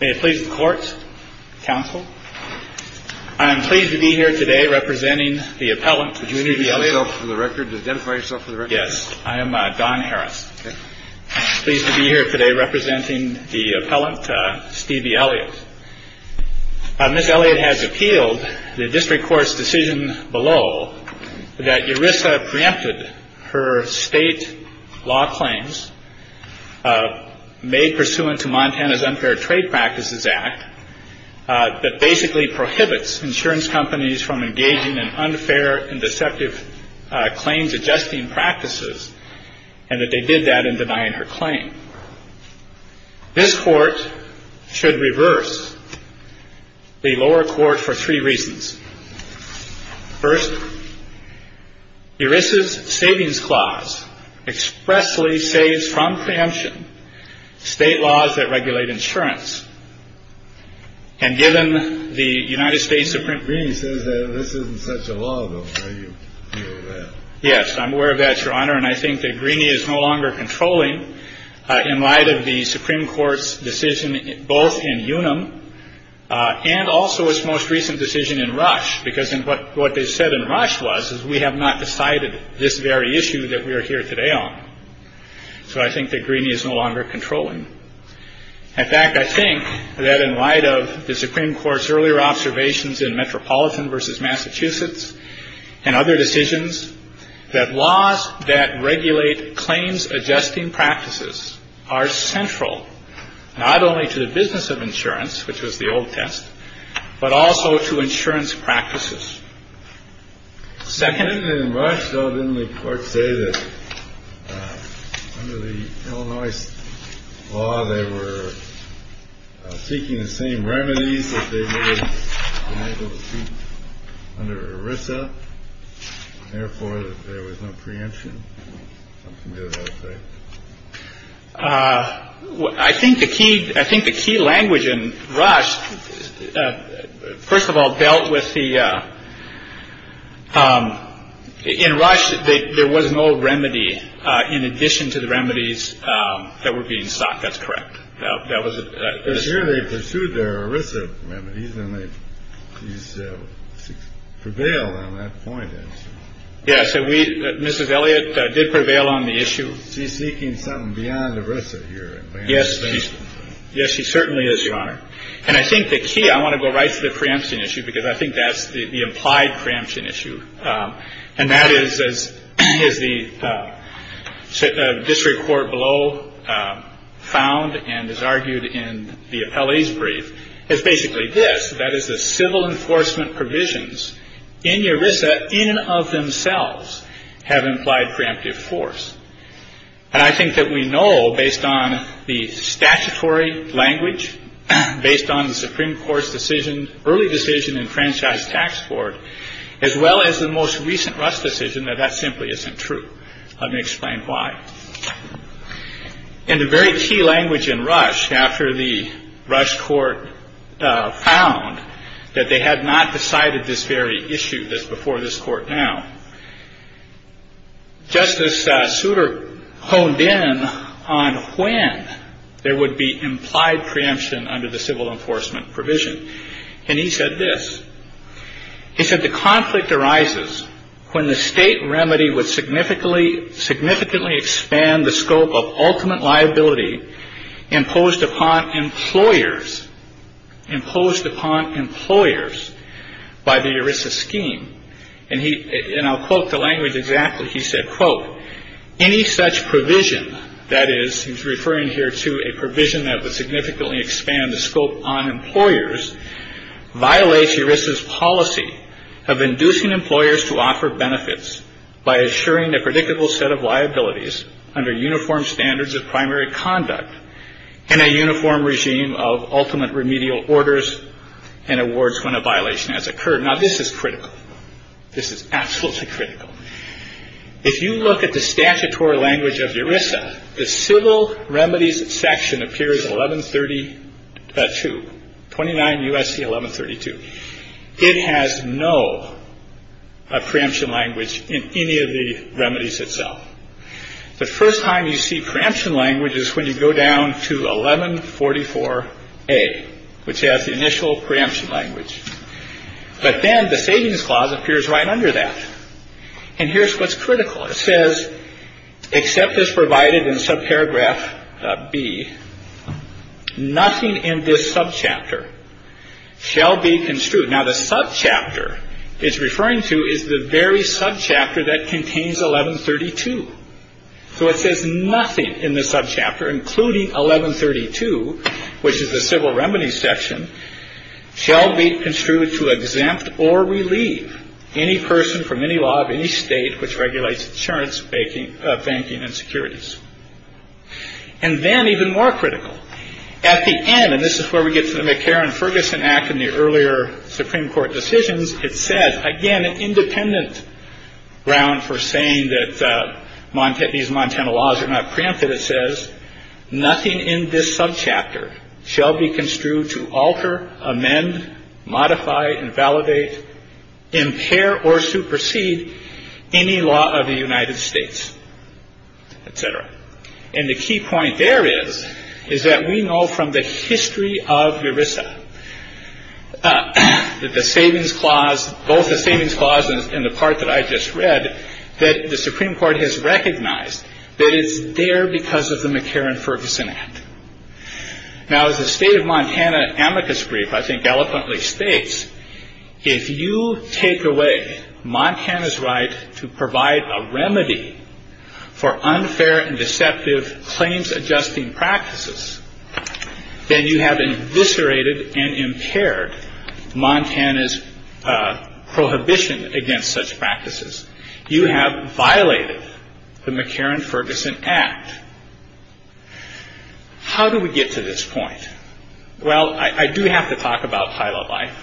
May it please the Court, Counsel. I am pleased to be here today representing the appellant, Stevie Elliott. Do you need to identify yourself for the record? Yes. I am Don Harris. Pleased to be here today representing the appellant, Stevie Elliott. Ms. Elliott has appealed the district court's decision below that ERISA preempted her state law claims made pursuant to Montana's Unfair Trade Practices Act that basically prohibits insurance companies from engaging in unfair and deceptive claims adjusting practices, and that they did that in denying her claim. This Court should reverse the lower court for three reasons. First, ERISA's Savings Clause expressly saves from preemption state laws that regulate insurance. And given the United States Supreme... Greene says that this isn't such a law, though. Are you aware of that? Yes, I'm aware of that, Your Honor. And I think that Greene is no longer controlling in light of the Supreme Court's decision, both in Unum and also its most recent decision in Rush, because what they said in Rush was we have not decided this very issue that we are here today on. So I think that Greene is no longer controlling. In fact, I think that in light of the Supreme Court's earlier observations in Metropolitan v. Massachusetts and other decisions that laws that regulate claims adjusting practices are central not only to the business of insurance, which was the old test, but also to insurance practices. Second, in Rush, though, didn't the court say that under the Illinois law, they were seeking the same remedies under ERISA. Therefore, there was no preemption. I think the key. I think the key language in Rush, first of all, dealt with the. In Rush, there was no remedy in addition to the remedies that were being sought. That's correct. That was it. They pursued their ERISA remedies and they prevailed on that point. Yes. And we, Mrs. Elliott, did prevail on the issue. She's seeking something beyond ERISA here. Yes. Yes, she certainly is, Your Honor. And I think the key I want to go right to the preemption issue, because I think that's the implied preemption issue. And that is as is the district court below found and is argued in the appellee's brief is basically this. That is the civil enforcement provisions in ERISA in and of themselves have implied preemptive force. And I think that we know based on the statutory language, based on the Supreme Court's decision, early decision in franchise tax court, as well as the most recent rush decision, that that simply isn't true. Let me explain why. And the very key language in Rush after the Rush court found that they had not decided this very issue. This before this court now. Justice Souter honed in on when there would be implied preemption under the civil enforcement provision. And he said this. He said the conflict arises when the state remedy would significantly, significantly expand the scope of ultimate liability imposed upon employers, imposed upon employers by the ERISA scheme. And he and I'll quote the language exactly. He said, quote, Any such provision that is referring here to a provision that would significantly expand the scope on employers violates ERISA's policy of inducing employers to offer benefits by assuring a predictable set of liabilities under uniform standards of primary conduct in a uniform regime of ultimate remedial orders and awards when a violation has occurred. Now, this is critical. This is absolutely critical. If you look at the statutory language of ERISA, the civil remedies section appears 1130 to 29 U.S.C. 1132. It has no preemption language in any of the remedies itself. The first time you see preemption language is when you go down to 1144 A, which has the initial preemption language. But then the savings clause appears right under that. And here's what's critical. It says, except as provided in subparagraph B, nothing in this subchapter shall be construed. Now, the subchapter it's referring to is the very subchapter that contains 1132. So it says nothing in the subchapter, including 1132, which is the civil remedies section, shall be construed to exempt or relieve any person from any law of any state which regulates insurance, banking, banking and securities. And then even more critical at the end. And this is where we get to the McCarran Ferguson Act in the earlier Supreme Court decisions. It said, again, an independent round for saying that these Montana laws are not preempted. It says nothing in this subchapter shall be construed to alter, amend, modify, invalidate, impair or supersede any law of the United States, etc. And the key point there is, is that we know from the history of ERISA that the savings clause, both the savings clauses and the part that I just read, that the Supreme Court has recognized that it's there because of the McCarran Ferguson Act. Now, as the state of Montana amicus brief, I think eloquently states, if you take away Montana's right to provide a remedy for unfair and deceptive claims adjusting practices, then you have eviscerated and impaired Montana's prohibition against such practices. You have violated the McCarran Ferguson Act. How do we get to this point? Well, I do have to talk about pilot life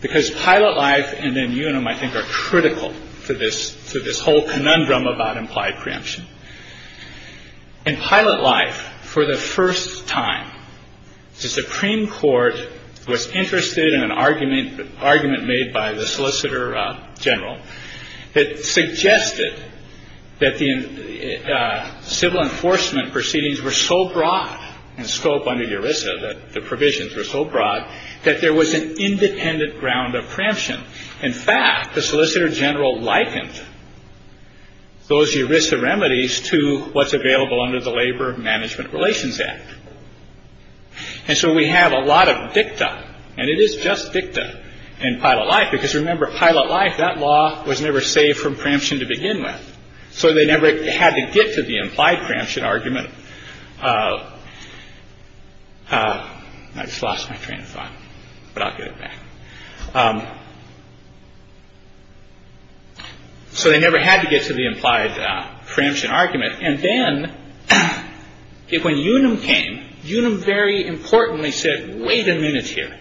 because pilot life and then you and I think are critical to this, to this whole conundrum about implied preemption and pilot life. For the first time, the Supreme Court was interested in an argument, an argument made by the solicitor general that suggested that the civil enforcement proceedings were so broad in scope under ERISA, that the provisions were so broad that there was an independent ground of preemption. In fact, the solicitor general likened those ERISA remedies to what's available under the Labor Management Relations Act. And so we have a lot of dicta and it is just dicta in pilot life because remember, pilot life, that law was never saved from preemption to begin with. So they never had to get to the implied preemption argument. I just lost my train of thought, but I'll get it back. So they never had to get to the implied preemption argument. And then when Unum came, Unum very importantly said, wait a minute here.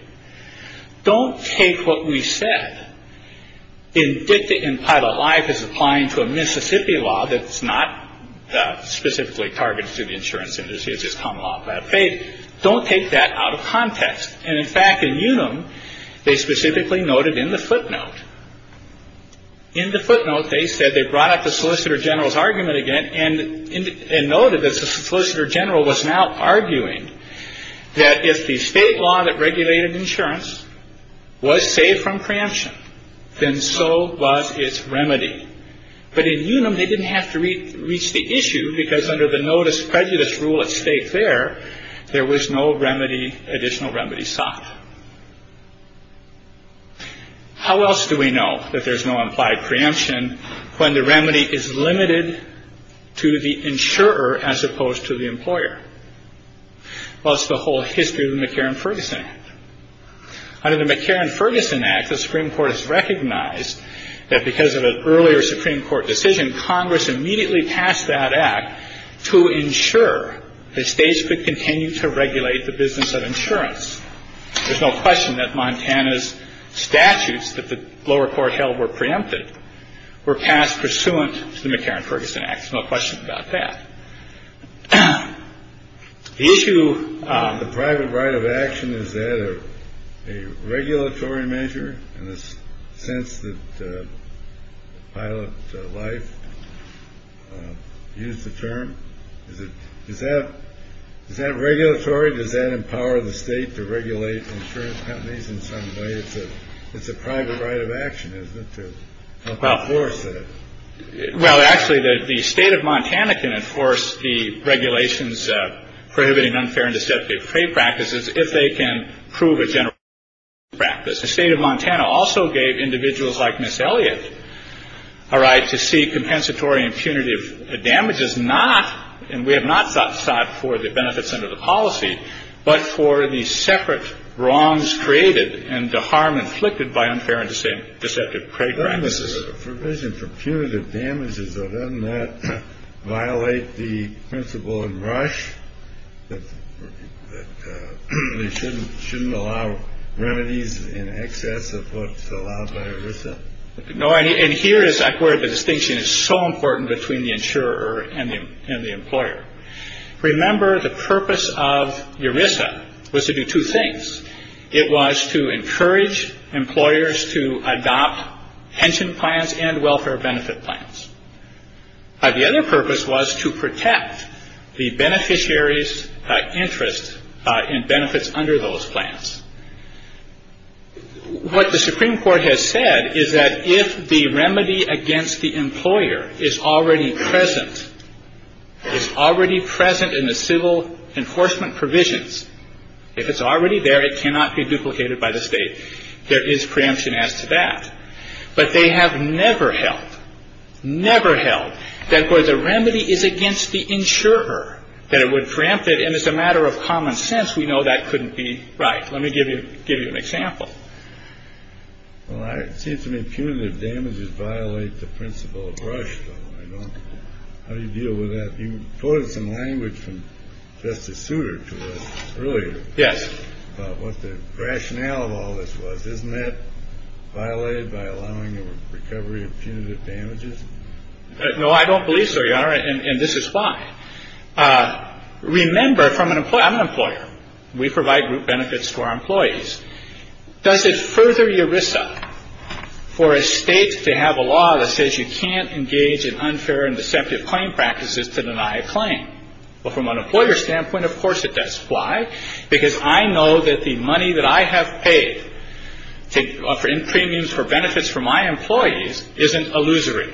Don't take what we said in dicta in pilot life as applying to a Mississippi law. That's not specifically targeted to the insurance industry. It's just common law by faith. Don't take that out of context. And in fact, in Unum, they specifically noted in the footnote. In the footnote, they said they brought up the solicitor general's argument again and noted that the solicitor general was now arguing that if the state law that regulated insurance was saved from preemption, then so was its remedy. But in Unum, they didn't have to reach the issue because under the notice prejudice rule at stake there, there was no remedy, additional remedy sought. How else do we know that there's no implied preemption when the remedy is limited to the insurer as opposed to the employer? Well, it's the whole history of the McCarran-Ferguson Act. Under the McCarran-Ferguson Act, the Supreme Court has recognized that because of an earlier Supreme Court decision, Congress immediately passed that act to ensure that states could continue to regulate the business of insurance. There's no question that Montana's statutes that the lower court held were preempted were passed pursuant to the McCarran-Ferguson Act. No question about that issue. The private right of action is that a regulatory measure in the sense that pilot life use the term. Is that is that regulatory? Does that empower the state to regulate insurance companies in some way? It's a private right of action, isn't it? Well, actually, the state of Montana can enforce the regulations prohibiting unfair and deceptive practices if they can prove a general practice. The state of Montana also gave individuals like Miss Elliott a right to see compensatory and punitive damages, not and we have not sought for the benefits under the policy, but for the separate wrongs created and the harm inflicted by unfair and deceptive practices. This is a provision for punitive damages. Doesn't that violate the principle in Rush? They shouldn't shouldn't allow remedies in excess of what's allowed by RISA. And here is where the distinction is so important between the insurer and the employer. Remember, the purpose of your RISA was to do two things. It was to encourage employers to adopt pension plans and welfare benefit plans. The other purpose was to protect the beneficiaries interest in benefits under those plans. What the Supreme Court has said is that if the remedy against the employer is already present, it's already present in the civil enforcement provisions. If it's already there, it cannot be duplicated by the state. There is preemption as to that. But they have never held, never held that for the remedy is against the insurer that it would rampant. And it's a matter of common sense. We know that couldn't be right. Let me give you give you an example. All right. Seems to me punitive damages violate the principle of Rush. How do you deal with that? You quoted some language from Justice Souter earlier. Yes. What the rationale of all this was, isn't that violated by allowing a recovery of punitive damages? No, I don't believe so. And this is why. Remember, from an employee, I'm an employer. We provide group benefits to our employees. Does it further your risk for a state to have a law that says you can't engage in unfair and deceptive claim practices to deny a claim? Well, from an employer standpoint, of course it does. Why? Because I know that the money that I have paid to offer in premiums for benefits for my employees isn't illusory.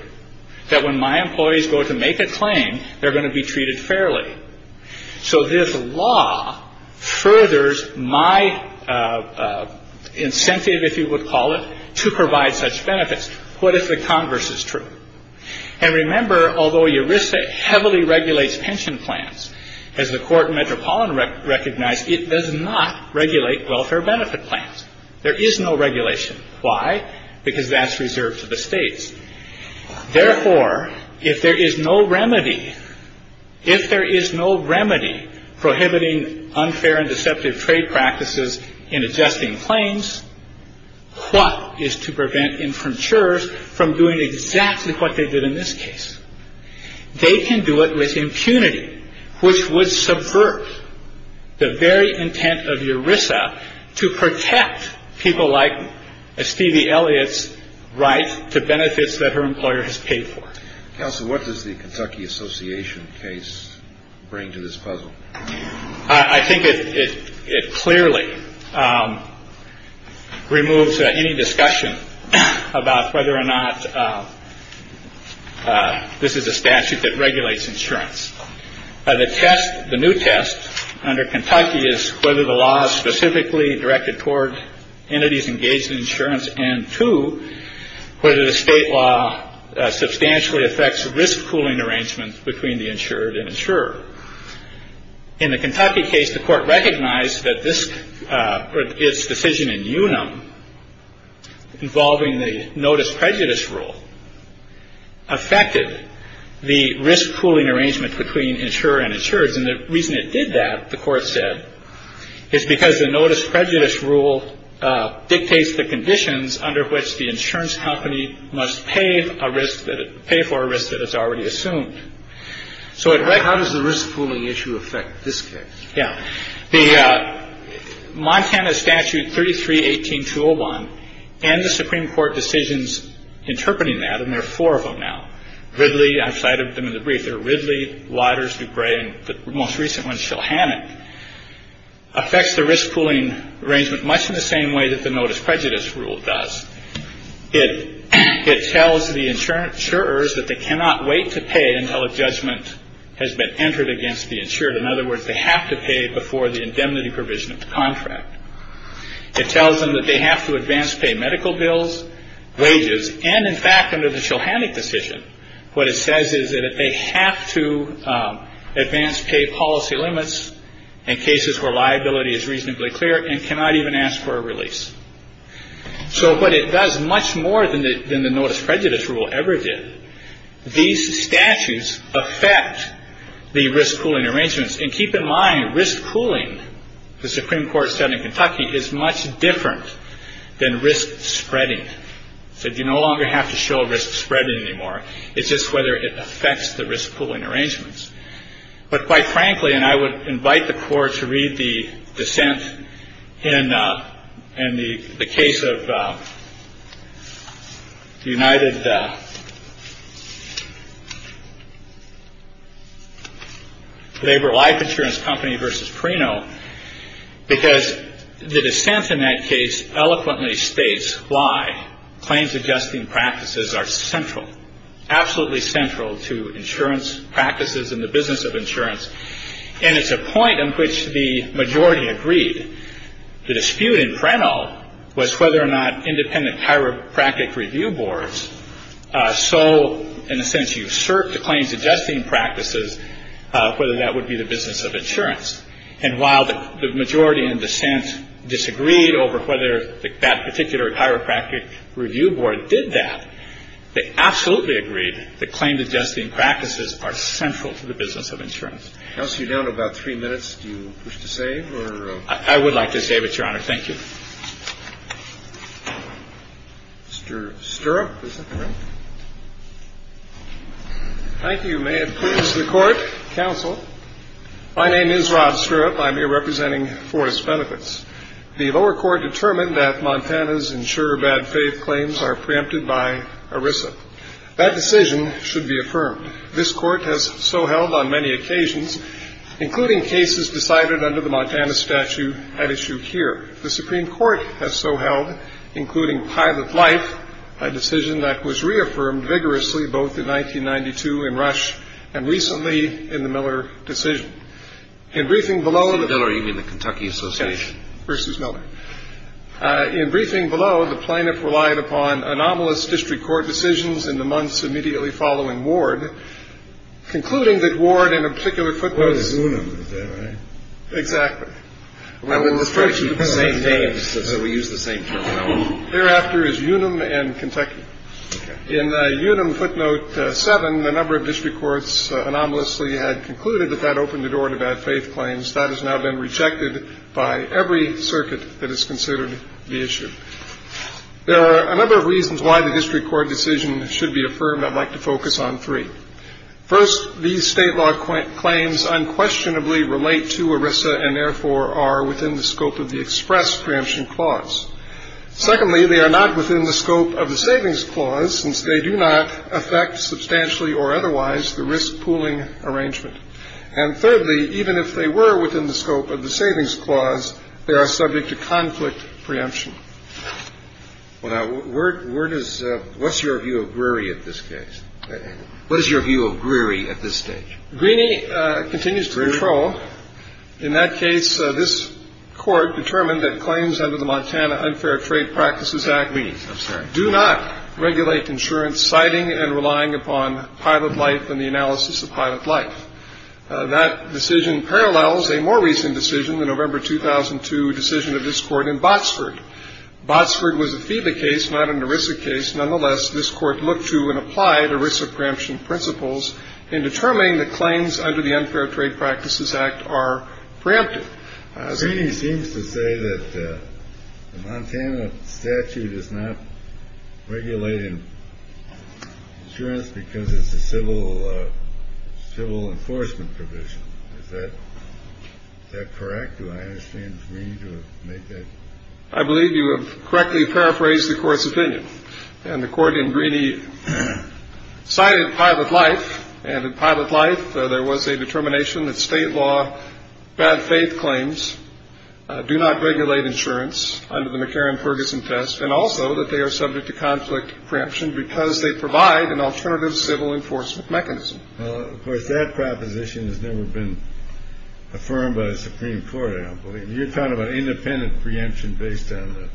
That when my employees go to make a claim, they're going to be treated fairly. So this law furthers my incentive, if you would call it, to provide such benefits. What if the converse is true? And remember, although your risk heavily regulates pension plans, as the court in Metropolitan recognized, it does not regulate welfare benefit plans. There is no regulation. Why? Because that's reserved to the states. Therefore, if there is no remedy, if there is no remedy prohibiting unfair and deceptive trade practices in adjusting claims, what is to prevent infratures from doing exactly what they did in this case? They can do it with impunity, which would subvert the very intent of ERISA to protect people like Stevie Elliott's right to benefits that her employer has paid for. Counsel, what does the Kentucky Association case bring to this puzzle? I think it clearly removes any discussion about whether or not this is a statute that regulates insurance. The test, the new test under Kentucky is whether the law is specifically directed toward entities engaged in insurance. And two, whether the state law substantially affects risk pooling arrangements between the insured and insurer. In the Kentucky case, the court recognized that this is decision in UNAM involving the notice prejudice rule. Affected the risk pooling arrangement between insurer and insured. And the reason it did that, the court said, is because the notice prejudice rule dictates the conditions under which the insurance company must pay a risk that pay for a risk that is already assumed. So how does the risk pooling issue affect this case? Yeah. The Montana Statute 3318 201 and the Supreme Court decisions interpreting that. And there are four of them now. Ridley, I cited them in the brief. They're Ridley, Waters, DuBray, and the most recent one, Shulhannock. Affects the risk pooling arrangement much in the same way that the notice prejudice rule does it. It tells the insurance insurers that they cannot wait to pay until a judgment has been entered against the insured. In other words, they have to pay before the indemnity provision of the contract. It tells them that they have to advance pay medical bills, wages. And in fact, under the Shulhannock decision, what it says is that they have to advance pay policy limits in cases where liability is reasonably clear and cannot even ask for a release. So but it does much more than the than the notice prejudice rule ever did. These statutes affect the risk pooling arrangements. And keep in mind, risk pooling. The Supreme Court said in Kentucky is much different than risk spreading. So you no longer have to show risk spreading anymore. It's just whether it affects the risk pooling arrangements. But quite frankly, and I would invite the court to read the dissent in and the case of the United Labor Life Insurance Company versus Prino, because the dissent in that case eloquently states why claims adjusting practices are central, absolutely central to insurance practices in the business of insurance. And it's a point in which the majority agreed the dispute in Prino was whether or not independent chiropractic review boards. So in a sense, you assert the claims adjusting practices, whether that would be the business of insurance. And while the majority in dissent disagreed over whether that particular chiropractic review board did that, they absolutely agreed that claim adjusting practices are central to the business of insurance. I'll see you down to about three minutes. Do you wish to say? I would like to say, but your honor, thank you. Mr. Stirrup. Thank you. May it please the court. Counsel. My name is Rod Stirrup. I'm here representing Forest Benefits. The lower court determined that Montana's insurer bad faith claims are preempted by ERISA. That decision should be affirmed. This court has so held on many occasions, including cases decided under the Montana statute at issue here. The Supreme Court has so held, including pilot life, a decision that was reaffirmed vigorously both in 1992 in Rush and recently in the Miller decision. In briefing below the Kentucky Association versus Miller. In briefing below, the plaintiff relied upon anomalous district court decisions in the months immediately following Ward, concluding that Ward in a particular footnote. Exactly. We use the same term. Thereafter is Unum and Kentucky in Unum footnote seven. The number of district courts anomalously had concluded that that opened the door to bad faith claims that has now been rejected by every circuit that is considered the issue. There are a number of reasons why the district court decision should be affirmed. I'd like to focus on three. First, these state law claims unquestionably relate to ERISA and therefore are within the scope of the express preemption clause. Secondly, they are not within the scope of the savings clause since they do not affect substantially or otherwise the risk pooling arrangement. And thirdly, even if they were within the scope of the savings clause, they are subject to conflict preemption. Well, now, where does what's your view of Greary at this case? What is your view of Greary at this stage? Greany continues to control. In that case, this court determined that claims under the Montana Unfair Trade Practices Act do not regulate insurance, citing and relying upon pilot life and the analysis of pilot life. That decision parallels a more recent decision, the November 2002 decision of this court in Botsford. Botsford was a FEBA case, not an ERISA case. Nonetheless, this court looked to and applied ERISA preemption principles in determining the claims under the Unfair Trade Practices Act are preemptive. Greany seems to say that the Montana statute is not regulating insurance because it's a civil enforcement provision. Is that correct? Do I understand Greany to have made that? I believe you have correctly paraphrased the court's opinion. And the court in Greany cited pilot life and pilot life. There was a determination that state law, bad faith claims do not regulate insurance under the McCarran-Ferguson test, and also that they are subject to conflict preemption because they provide an alternative civil enforcement mechanism. Of course, that proposition has never been affirmed by the Supreme Court. You're talking about independent preemption based on the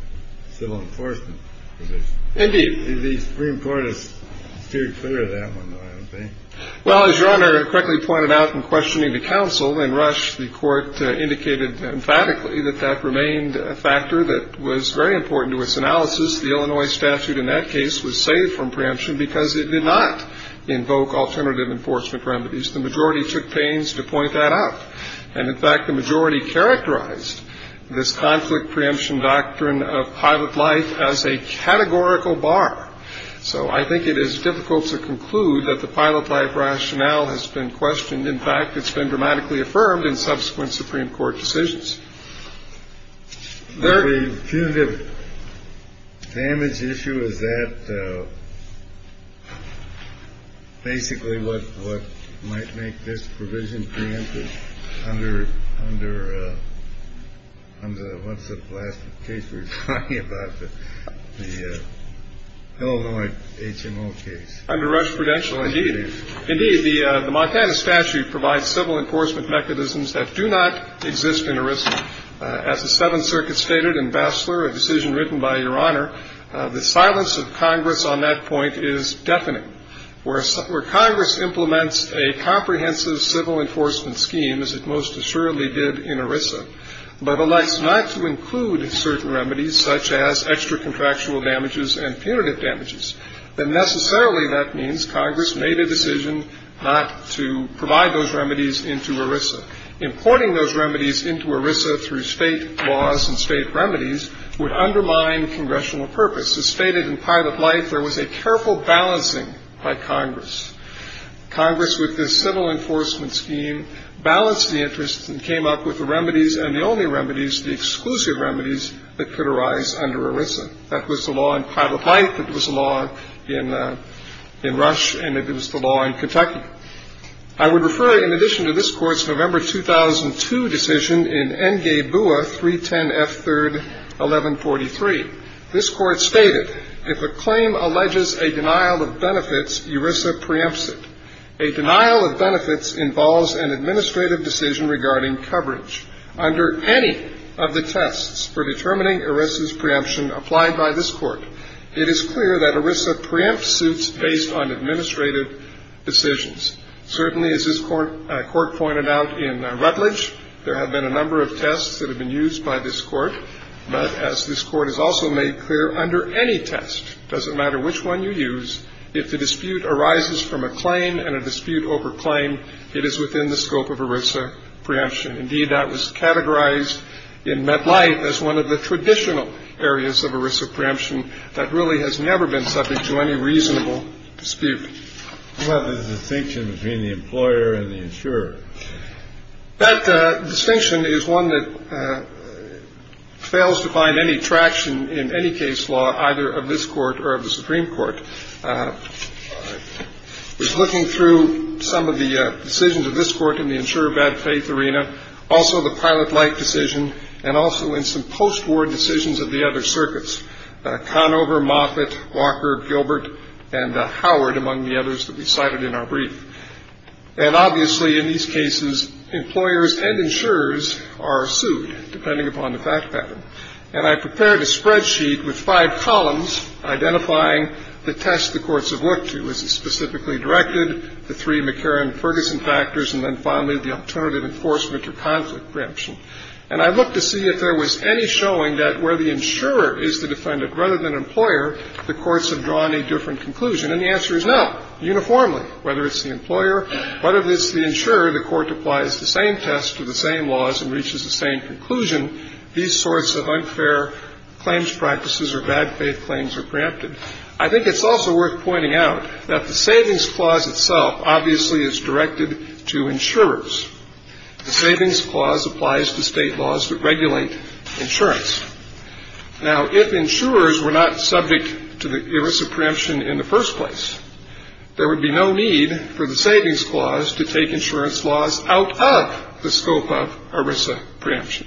civil enforcement provision. Indeed. The Supreme Court has steered clear of that one, though, I don't think. Well, as Your Honor correctly pointed out in questioning the counsel in Rush, the court indicated emphatically that that remained a factor that was very important to its analysis. The Illinois statute in that case was saved from preemption because it did not invoke alternative enforcement remedies. The majority took pains to point that out. And in fact, the majority characterized this conflict preemption doctrine of pilot life as a categorical bar. So I think it is difficult to conclude that the pilot life rationale has been questioned. In fact, it's been dramatically affirmed in subsequent Supreme Court decisions. The punitive damage issue, is that basically what might make this provision preemptive under what's the last case we're talking about? The Illinois HMO case. Indeed. Indeed, the Montana statute provides civil enforcement mechanisms that do not exist in ERISA. As the Seventh Circuit stated in Bassler, a decision written by Your Honor, the silence of Congress on that point is deafening. Where Congress implements a comprehensive civil enforcement scheme, as it most assuredly did in ERISA, but elects not to include certain remedies such as extra contractual damages and punitive damages, then necessarily that means Congress made a decision not to provide those remedies into ERISA. Importing those remedies into ERISA through state laws and state remedies would undermine congressional purpose. As stated in pilot life, there was a careful balancing by Congress. Congress, with this civil enforcement scheme, balanced the interests and came up with the remedies, and the only remedies, the exclusive remedies that could arise under ERISA. That was the law in pilot life. It was the law in Rush. And it was the law in Kentucky. I would refer in addition to this Court's November 2002 decision in N. Gay-Bua, 310 F. 3rd, 1143. This Court stated, if a claim alleges a denial of benefits, ERISA preempts it. A denial of benefits involves an administrative decision regarding coverage. Under any of the tests for determining ERISA's preemption applied by this Court, it is clear that ERISA preempts suits based on administrative decisions. Certainly, as this Court pointed out in Rutledge, there have been a number of tests that have been used by this Court. But as this Court has also made clear, under any test, doesn't matter which one you use, if the dispute arises from a claim and a dispute over claim, it is within the scope of ERISA preemption. Indeed, that was categorized in MetLife as one of the traditional areas of ERISA preemption that really has never been subject to any reasonable dispute. What about the distinction between the employer and the insurer? That distinction is one that fails to find any traction in any case law, either of this Court or of the Supreme Court. I was looking through some of the decisions of this Court in the insurer bad-faith arena, also the pilot-like decision, and also in some post-war decisions of the other circuits, Conover, Moffitt, Walker, Gilbert, and Howard, among the others that we cited in our brief. And obviously, in these cases, employers and insurers are sued, depending upon the fact pattern. And I prepared a spreadsheet with five columns identifying the tests the courts have looked to. Is it specifically directed, the three McCarran-Ferguson factors, and then finally, the alternative enforcement or conflict preemption? And I looked to see if there was any showing that where the insurer is the defendant rather than employer, the courts have drawn a different conclusion. And the answer is no, uniformly. Whether it's the employer, whether it's the insurer, the court applies the same test to the same laws and reaches the same conclusion, these sorts of unfair claims practices or bad-faith claims are preempted. I think it's also worth pointing out that the Savings Clause itself obviously is directed to insurers. The Savings Clause applies to State laws that regulate insurance. Now, if insurers were not subject to the iris of preemption in the first place, there would be no need for the Savings Clause to take insurance laws out of the scope of iris of preemption.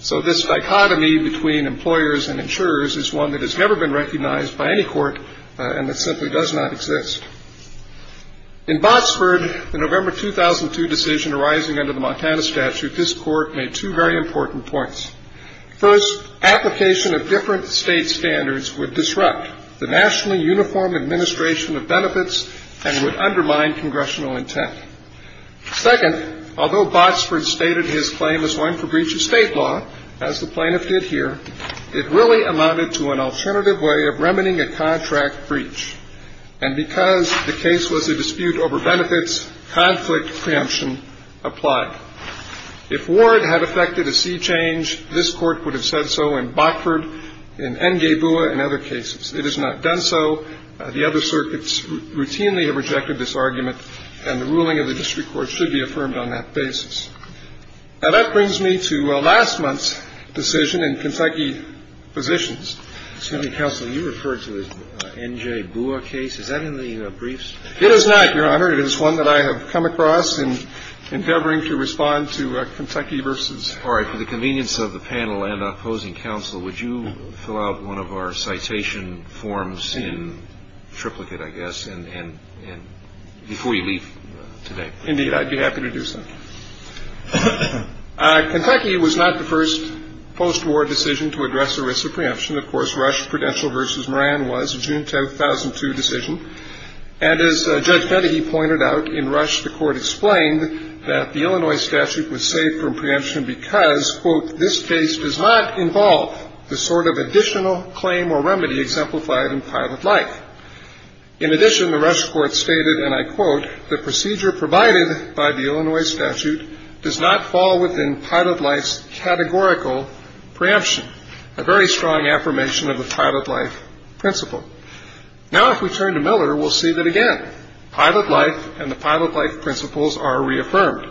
So this dichotomy between employers and insurers is one that has never been recognized by any court and that simply does not exist. In Botsford, the November 2002 decision arising under the Montana statute, this court made two very important points. First, application of different State standards would disrupt the nationally uniform administration of benefits and would undermine congressional intent. Second, although Botsford stated his claim as one for breach of State law, as the plaintiff did here, it really amounted to an alternative way of remedying a contract breach. And because the case was a dispute over benefits, conflict preemption applied. If Ward had affected a C change, this Court would have said so in Botsford, in N.J. Bua and other cases. It has not done so. The other circuits routinely have rejected this argument, and the ruling of the district court should be affirmed on that basis. Now, that brings me to last month's decision in Kentucky Physicians. Roberts. Excuse me, counsel. You referred to the N.J. Bua case. Is that in the briefs? It is not, Your Honor. It is one that I have come across in endeavoring to respond to Kentucky versus. All right. For the convenience of the panel and opposing counsel, would you fill out one of our citation forms in triplicate, I guess, and before you leave today. Indeed, I'd be happy to do so. Kentucky was not the first post-war decision to address the risk of preemption. Of course, Rush Prudential versus Moran was a June 2002 decision. And as Judge Fedehe pointed out, in Rush the court explained that the Illinois statute was safe from preemption because, quote, this case does not involve the sort of additional claim or remedy exemplified in pilot life. In addition, the Rush court stated, and I quote, the procedure provided by the Illinois statute does not fall within pilot life's categorical preemption, a very strong affirmation of the pilot life principle. Now, if we turn to Miller, we'll see that, again, pilot life and the pilot life principles are reaffirmed.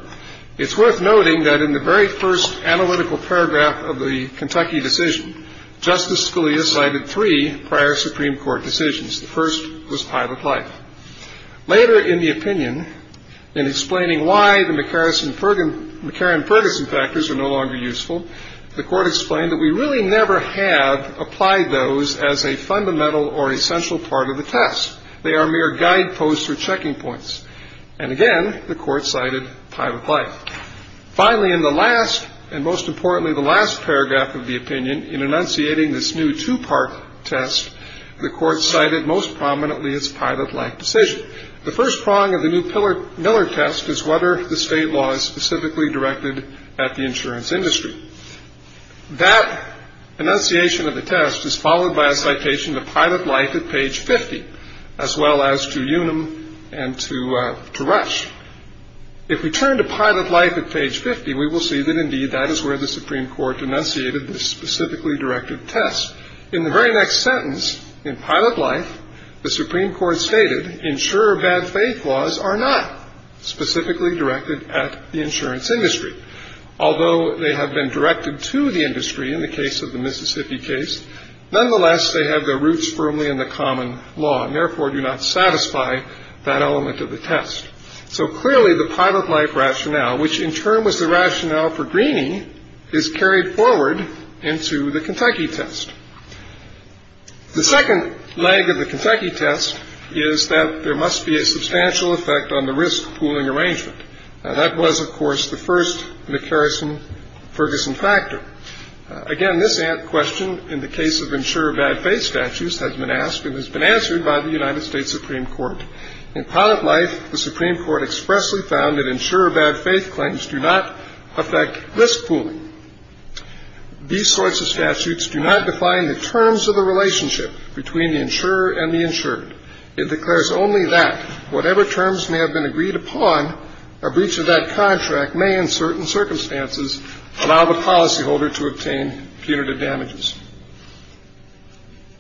It's worth noting that in the very first analytical paragraph of the Kentucky decision, Justice Scalia cited three prior Supreme Court decisions. The first was pilot life. Later in the opinion, in explaining why the McCarran-Ferguson factors are no longer useful, the court explained that we really never have applied those as a fundamental or essential part of the test. They are mere guideposts or checking points. And, again, the court cited pilot life. Finally, in the last and most importantly the last paragraph of the opinion, in enunciating this new two-part test, the court cited most prominently its pilot life decision. The first prong of the new Miller test is whether the state law is specifically directed at the insurance industry. That enunciation of the test is followed by a citation to pilot life at page 50, as well as to Unum and to Rush. If we turn to pilot life at page 50, we will see that, indeed, that is where the Supreme Court enunciated this specifically directed test. In the very next sentence, in pilot life, the Supreme Court stated insurer bad faith laws are not specifically directed at the insurance industry. Although they have been directed to the industry in the case of the Mississippi case, nonetheless, they have their roots firmly in the common law and, therefore, do not satisfy that element of the test. So, clearly, the pilot life rationale, which in turn was the rationale for Greeney, is carried forward into the Kentucky test. The second leg of the Kentucky test is that there must be a substantial effect on the risk pooling arrangement. Now, that was, of course, the first McCarrison-Ferguson factor. Again, this question, in the case of insurer bad faith statutes, has been asked and has been answered by the United States Supreme Court. In pilot life, the Supreme Court expressly found that insurer bad faith claims do not affect risk pooling. These sorts of statutes do not define the terms of the relationship between the insurer and the insured. It declares only that whatever terms may have been agreed upon, a breach of that contract may, in certain circumstances, allow the policyholder to obtain punitive damages.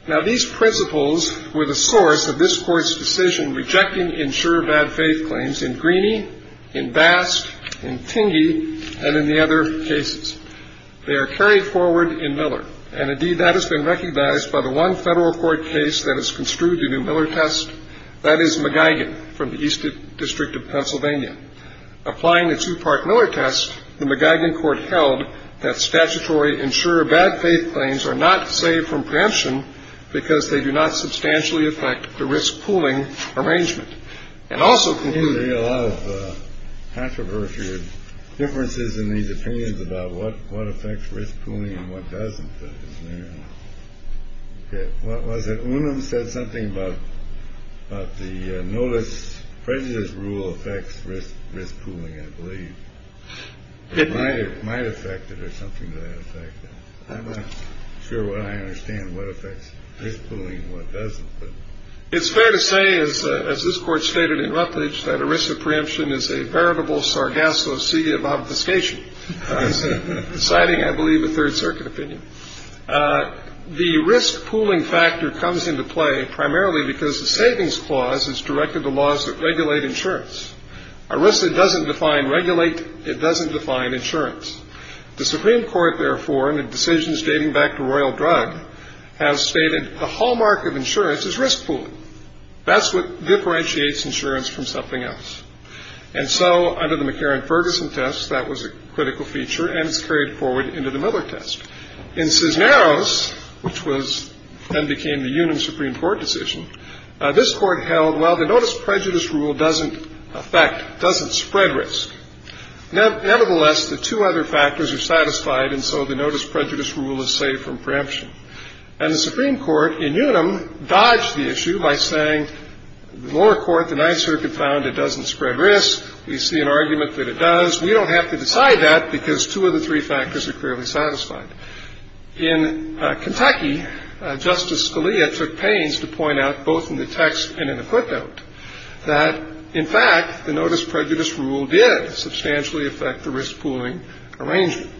Now, these principles were the source of this Court's decision rejecting insurer bad faith claims in Greeney, in Bast, in Tingey, and in the other cases. They are carried forward in Miller. And, indeed, that has been recognized by the one federal court case that has construed the new Miller test. That is McGuigan from the East District of Pennsylvania. Applying the two-part Miller test, the McGuigan court held that statutory insurer bad faith claims are not saved from preemption because they do not substantially affect the risk pooling arrangement. And also can be a lot of controversial differences in these opinions about what what affects risk pooling and what doesn't. What was it? One of them said something about the notice prejudice rule affects risk risk pooling. I believe it might it might affect it or something. I'm not sure what I understand. What affects this pooling? What doesn't? It's fair to say, as this court stated in Rutledge, that a risk of preemption is a veritable sargasso sea of obfuscation. Citing, I believe, a Third Circuit opinion. The risk pooling factor comes into play primarily because the savings clause is directed to laws that regulate insurance. A risk that doesn't define regulate, it doesn't define insurance. The Supreme Court, therefore, in the decisions dating back to Royal Drug, has stated the hallmark of insurance is risk pooling. That's what differentiates insurance from something else. And so under the McCarran-Ferguson test, that was a critical feature. And it's carried forward into the Miller test. In Cisneros, which was and became the Union Supreme Court decision, this court held, well, the notice prejudice rule doesn't affect, doesn't spread risk. Nevertheless, the two other factors are satisfied. And so the notice prejudice rule is safe from preemption. And the Supreme Court in Unum dodged the issue by saying, the lower court, the Ninth Circuit, found it doesn't spread risk. We see an argument that it does. We don't have to decide that because two of the three factors are clearly satisfied. In Kentucky, Justice Scalia took pains to point out, both in the text and in the footnote, that, in fact, the notice prejudice rule did substantially affect the risk pooling arrangement.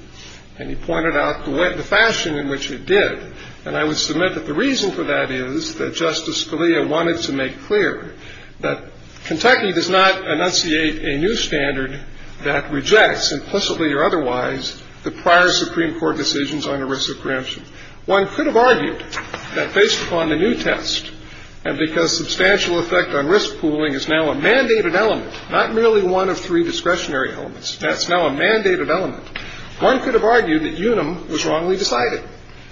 And he pointed out the fashion in which it did. And I would submit that the reason for that is that Justice Scalia wanted to make clear that Kentucky does not enunciate a new standard that rejects, implicitly or otherwise, the prior Supreme Court decisions on the risk of preemption. One could have argued that, based upon the new test, and because substantial effect on risk pooling is now a mandated element, not merely one of three discretionary elements. That's now a mandated element. One could have argued that Unum was wrongly decided.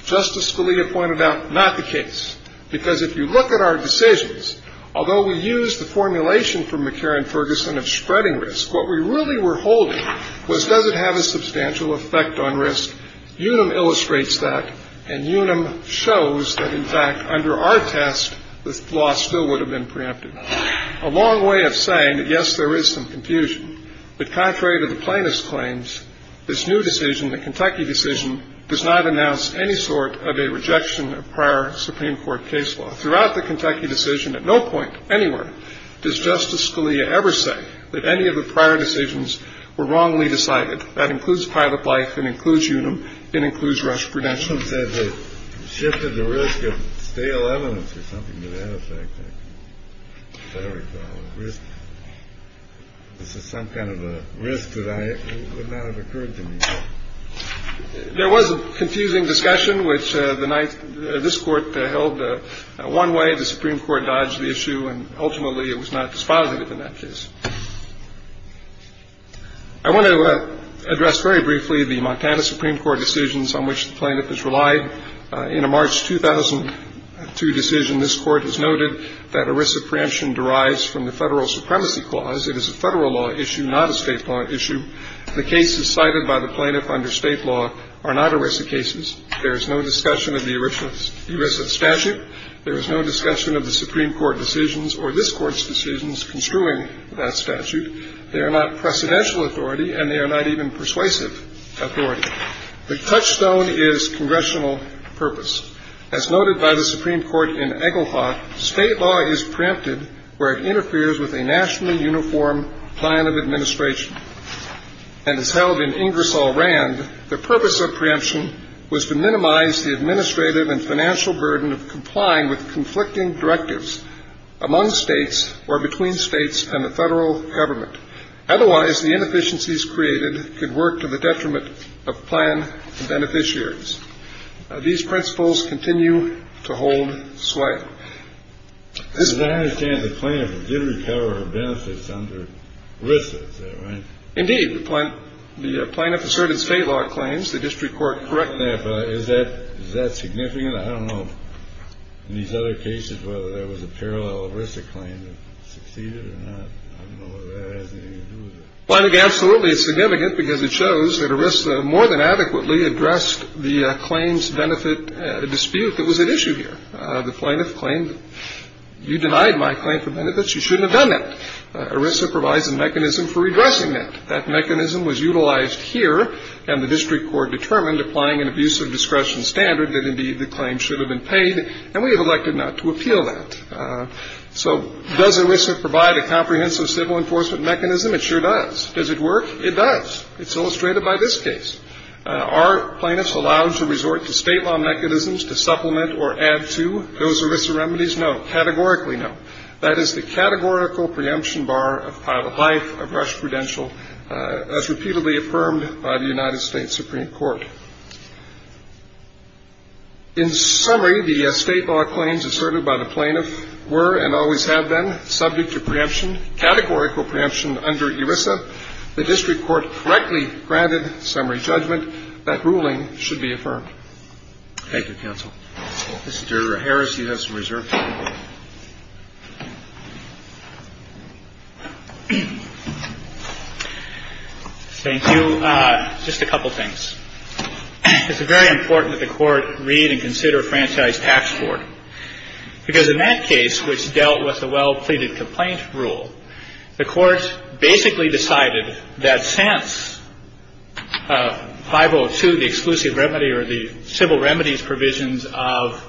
Justice Scalia pointed out, not the case. Because if you look at our decisions, although we use the formulation from McCarran-Ferguson of spreading risk, what we really were holding was, does it have a substantial effect on risk? Unum illustrates that. And Unum shows that, in fact, under our test, this law still would have been preempted. A long way of saying that, yes, there is some confusion. But contrary to the plaintiff's claims, this new decision, the Kentucky decision, does not announce any sort of a rejection of prior Supreme Court case law. Throughout the Kentucky decision, at no point anywhere does Justice Scalia ever say that any of the prior decisions were wrongly decided. That includes pilot life. It includes Unum. It includes rush prevention. Unum said they shifted the risk of stale evidence or something to that effect. I don't recall a risk. This is some kind of a risk that would not have occurred to me. There was a confusing discussion, which this Court held one way. The Supreme Court dodged the issue. And ultimately, it was not dispositive in that case. I want to address very briefly the Montana Supreme Court decisions on which the plaintiff has relied. In a March 2002 decision, this Court has noted that ERISA preemption derives from the Federal Supremacy Clause. It is a Federal law issue, not a State law issue. The cases cited by the plaintiff under State law are not ERISA cases. There is no discussion of the ERISA statute. There is no discussion of the Supreme Court decisions or this Court's decisions construing that statute. They are not precedential authority, and they are not even persuasive authority. The touchstone is congressional purpose. As noted by the Supreme Court in Egelhoff, State law is preempted where it interferes with a nationally uniform plan of administration. And as held in Ingersoll Rand, the purpose of preemption was to minimize the administrative and financial burden of complying with conflicting directives among States or between States and the Federal Government. Otherwise, the inefficiencies created could work to the detriment of plan beneficiaries. These principles continue to hold sway. As I understand, the plaintiff did recover her benefits under ERISA, is that right? Indeed. The plaintiff asserted State law claims. The district court corrected that. Is that significant? I don't know, in these other cases, whether there was a parallel ERISA claim that succeeded or not. I don't know whether that has anything to do with it. Well, I think absolutely it's significant because it shows that ERISA more than adequately addressed the claims-benefit dispute that was at issue here. The plaintiff claimed, you denied my claim for benefits. You shouldn't have done that. ERISA provides a mechanism for redressing that. That mechanism was utilized here, and the district court determined, applying an abusive discretion standard, that indeed the claim should have been paid, and we have elected not to appeal that. So does ERISA provide a comprehensive civil enforcement mechanism? It sure does. Does it work? It does. It's illustrated by this case. Are plaintiffs allowed to resort to State law mechanisms to supplement or add to those ERISA remedies? No. Categorically, no. That is the categorical preemption bar of pilot life of rush prudential as repeatedly affirmed by the United States Supreme Court. In summary, the State law claims asserted by the plaintiff were and always have been subject to preemption, categorical preemption under ERISA. The district court correctly granted summary judgment that ruling should be affirmed. Thank you, counsel. Mr. Harris, you have some reserve time. Thank you. Just a couple of things. It's very important that the Court read and consider Franchise Tax Court, because in that case, which dealt with the well-pleaded complaint rule, the Court basically decided that since 502, the exclusive remedy or the civil remedies provisions of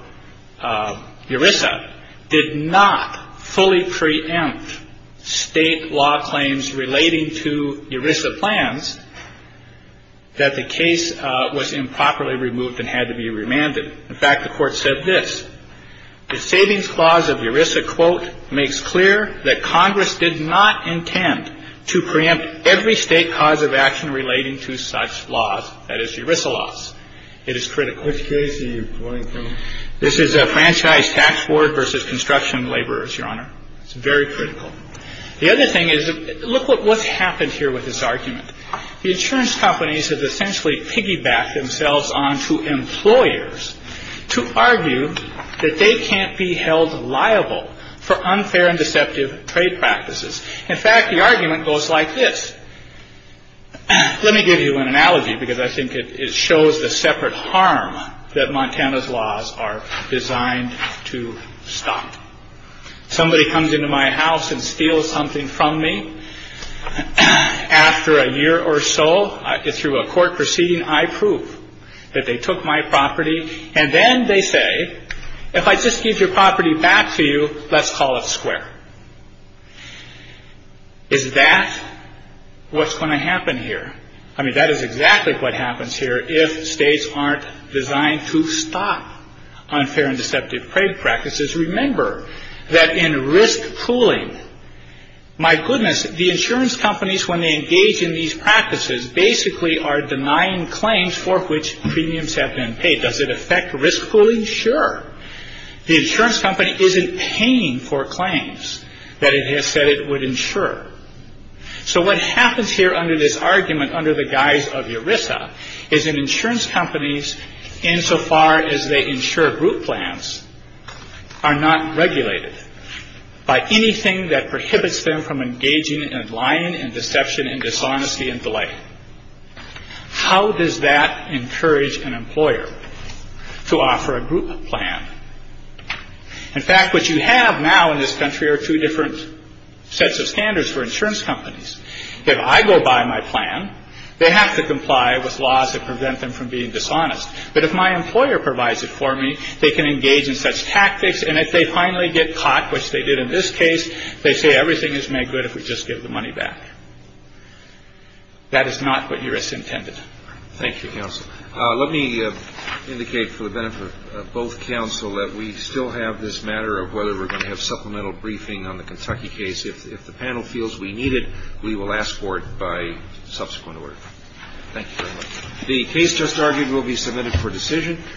ERISA, did not fully preempt State law claims relating to ERISA plans, that the case was improperly removed and had to be remanded. In fact, the Court said this. The Savings Clause of ERISA, quote, makes clear that Congress did not intend to preempt every State cause of action relating to such laws, that is, ERISA laws. It is critical. Which case are you referring to? This is Franchise Tax Court v. Construction Laborers, Your Honor. It's very critical. The other thing is, look what's happened here with this argument. The insurance companies have essentially piggybacked themselves onto employers to argue that they can't be held liable for unfair and deceptive trade practices. In fact, the argument goes like this. Let me give you an analogy, because I think it shows the separate harm that Montana's laws are designed to stop. Somebody comes into my house and steals something from me. After a year or so, through a court proceeding, I prove that they took my property. And then they say, if I just give your property back to you, let's call it square. Is that what's going to happen here? I mean, that is exactly what happens here if States aren't designed to stop unfair and deceptive trade practices. Remember that in risk pooling, my goodness, the insurance companies, when they engage in these practices, basically are denying claims for which premiums have been paid. Does it affect risk pooling? Sure. The insurance company isn't paying for claims that it has said it would insure. So what happens here under this argument, under the guise of ERISA, is that insurance companies, insofar as they insure group plans, are not regulated by anything that prohibits them from engaging in lying and deception and dishonesty and the like. How does that encourage an employer to offer a group plan? In fact, what you have now in this country are two different sets of standards for insurance companies. If I go by my plan, they have to comply with laws that prevent them from being dishonest. But if my employer provides it for me, they can engage in such tactics. And if they finally get caught, which they did in this case, they say everything is made good if we just give the money back. That is not what ERISA intended. Thank you, counsel. Let me indicate for the benefit of both counsel that we still have this matter of whether we're going to have supplemental briefing on the Kentucky case. If the panel feels we need it, we will ask for it by subsequent order. Thank you very much. The case just argued will be submitted for decision.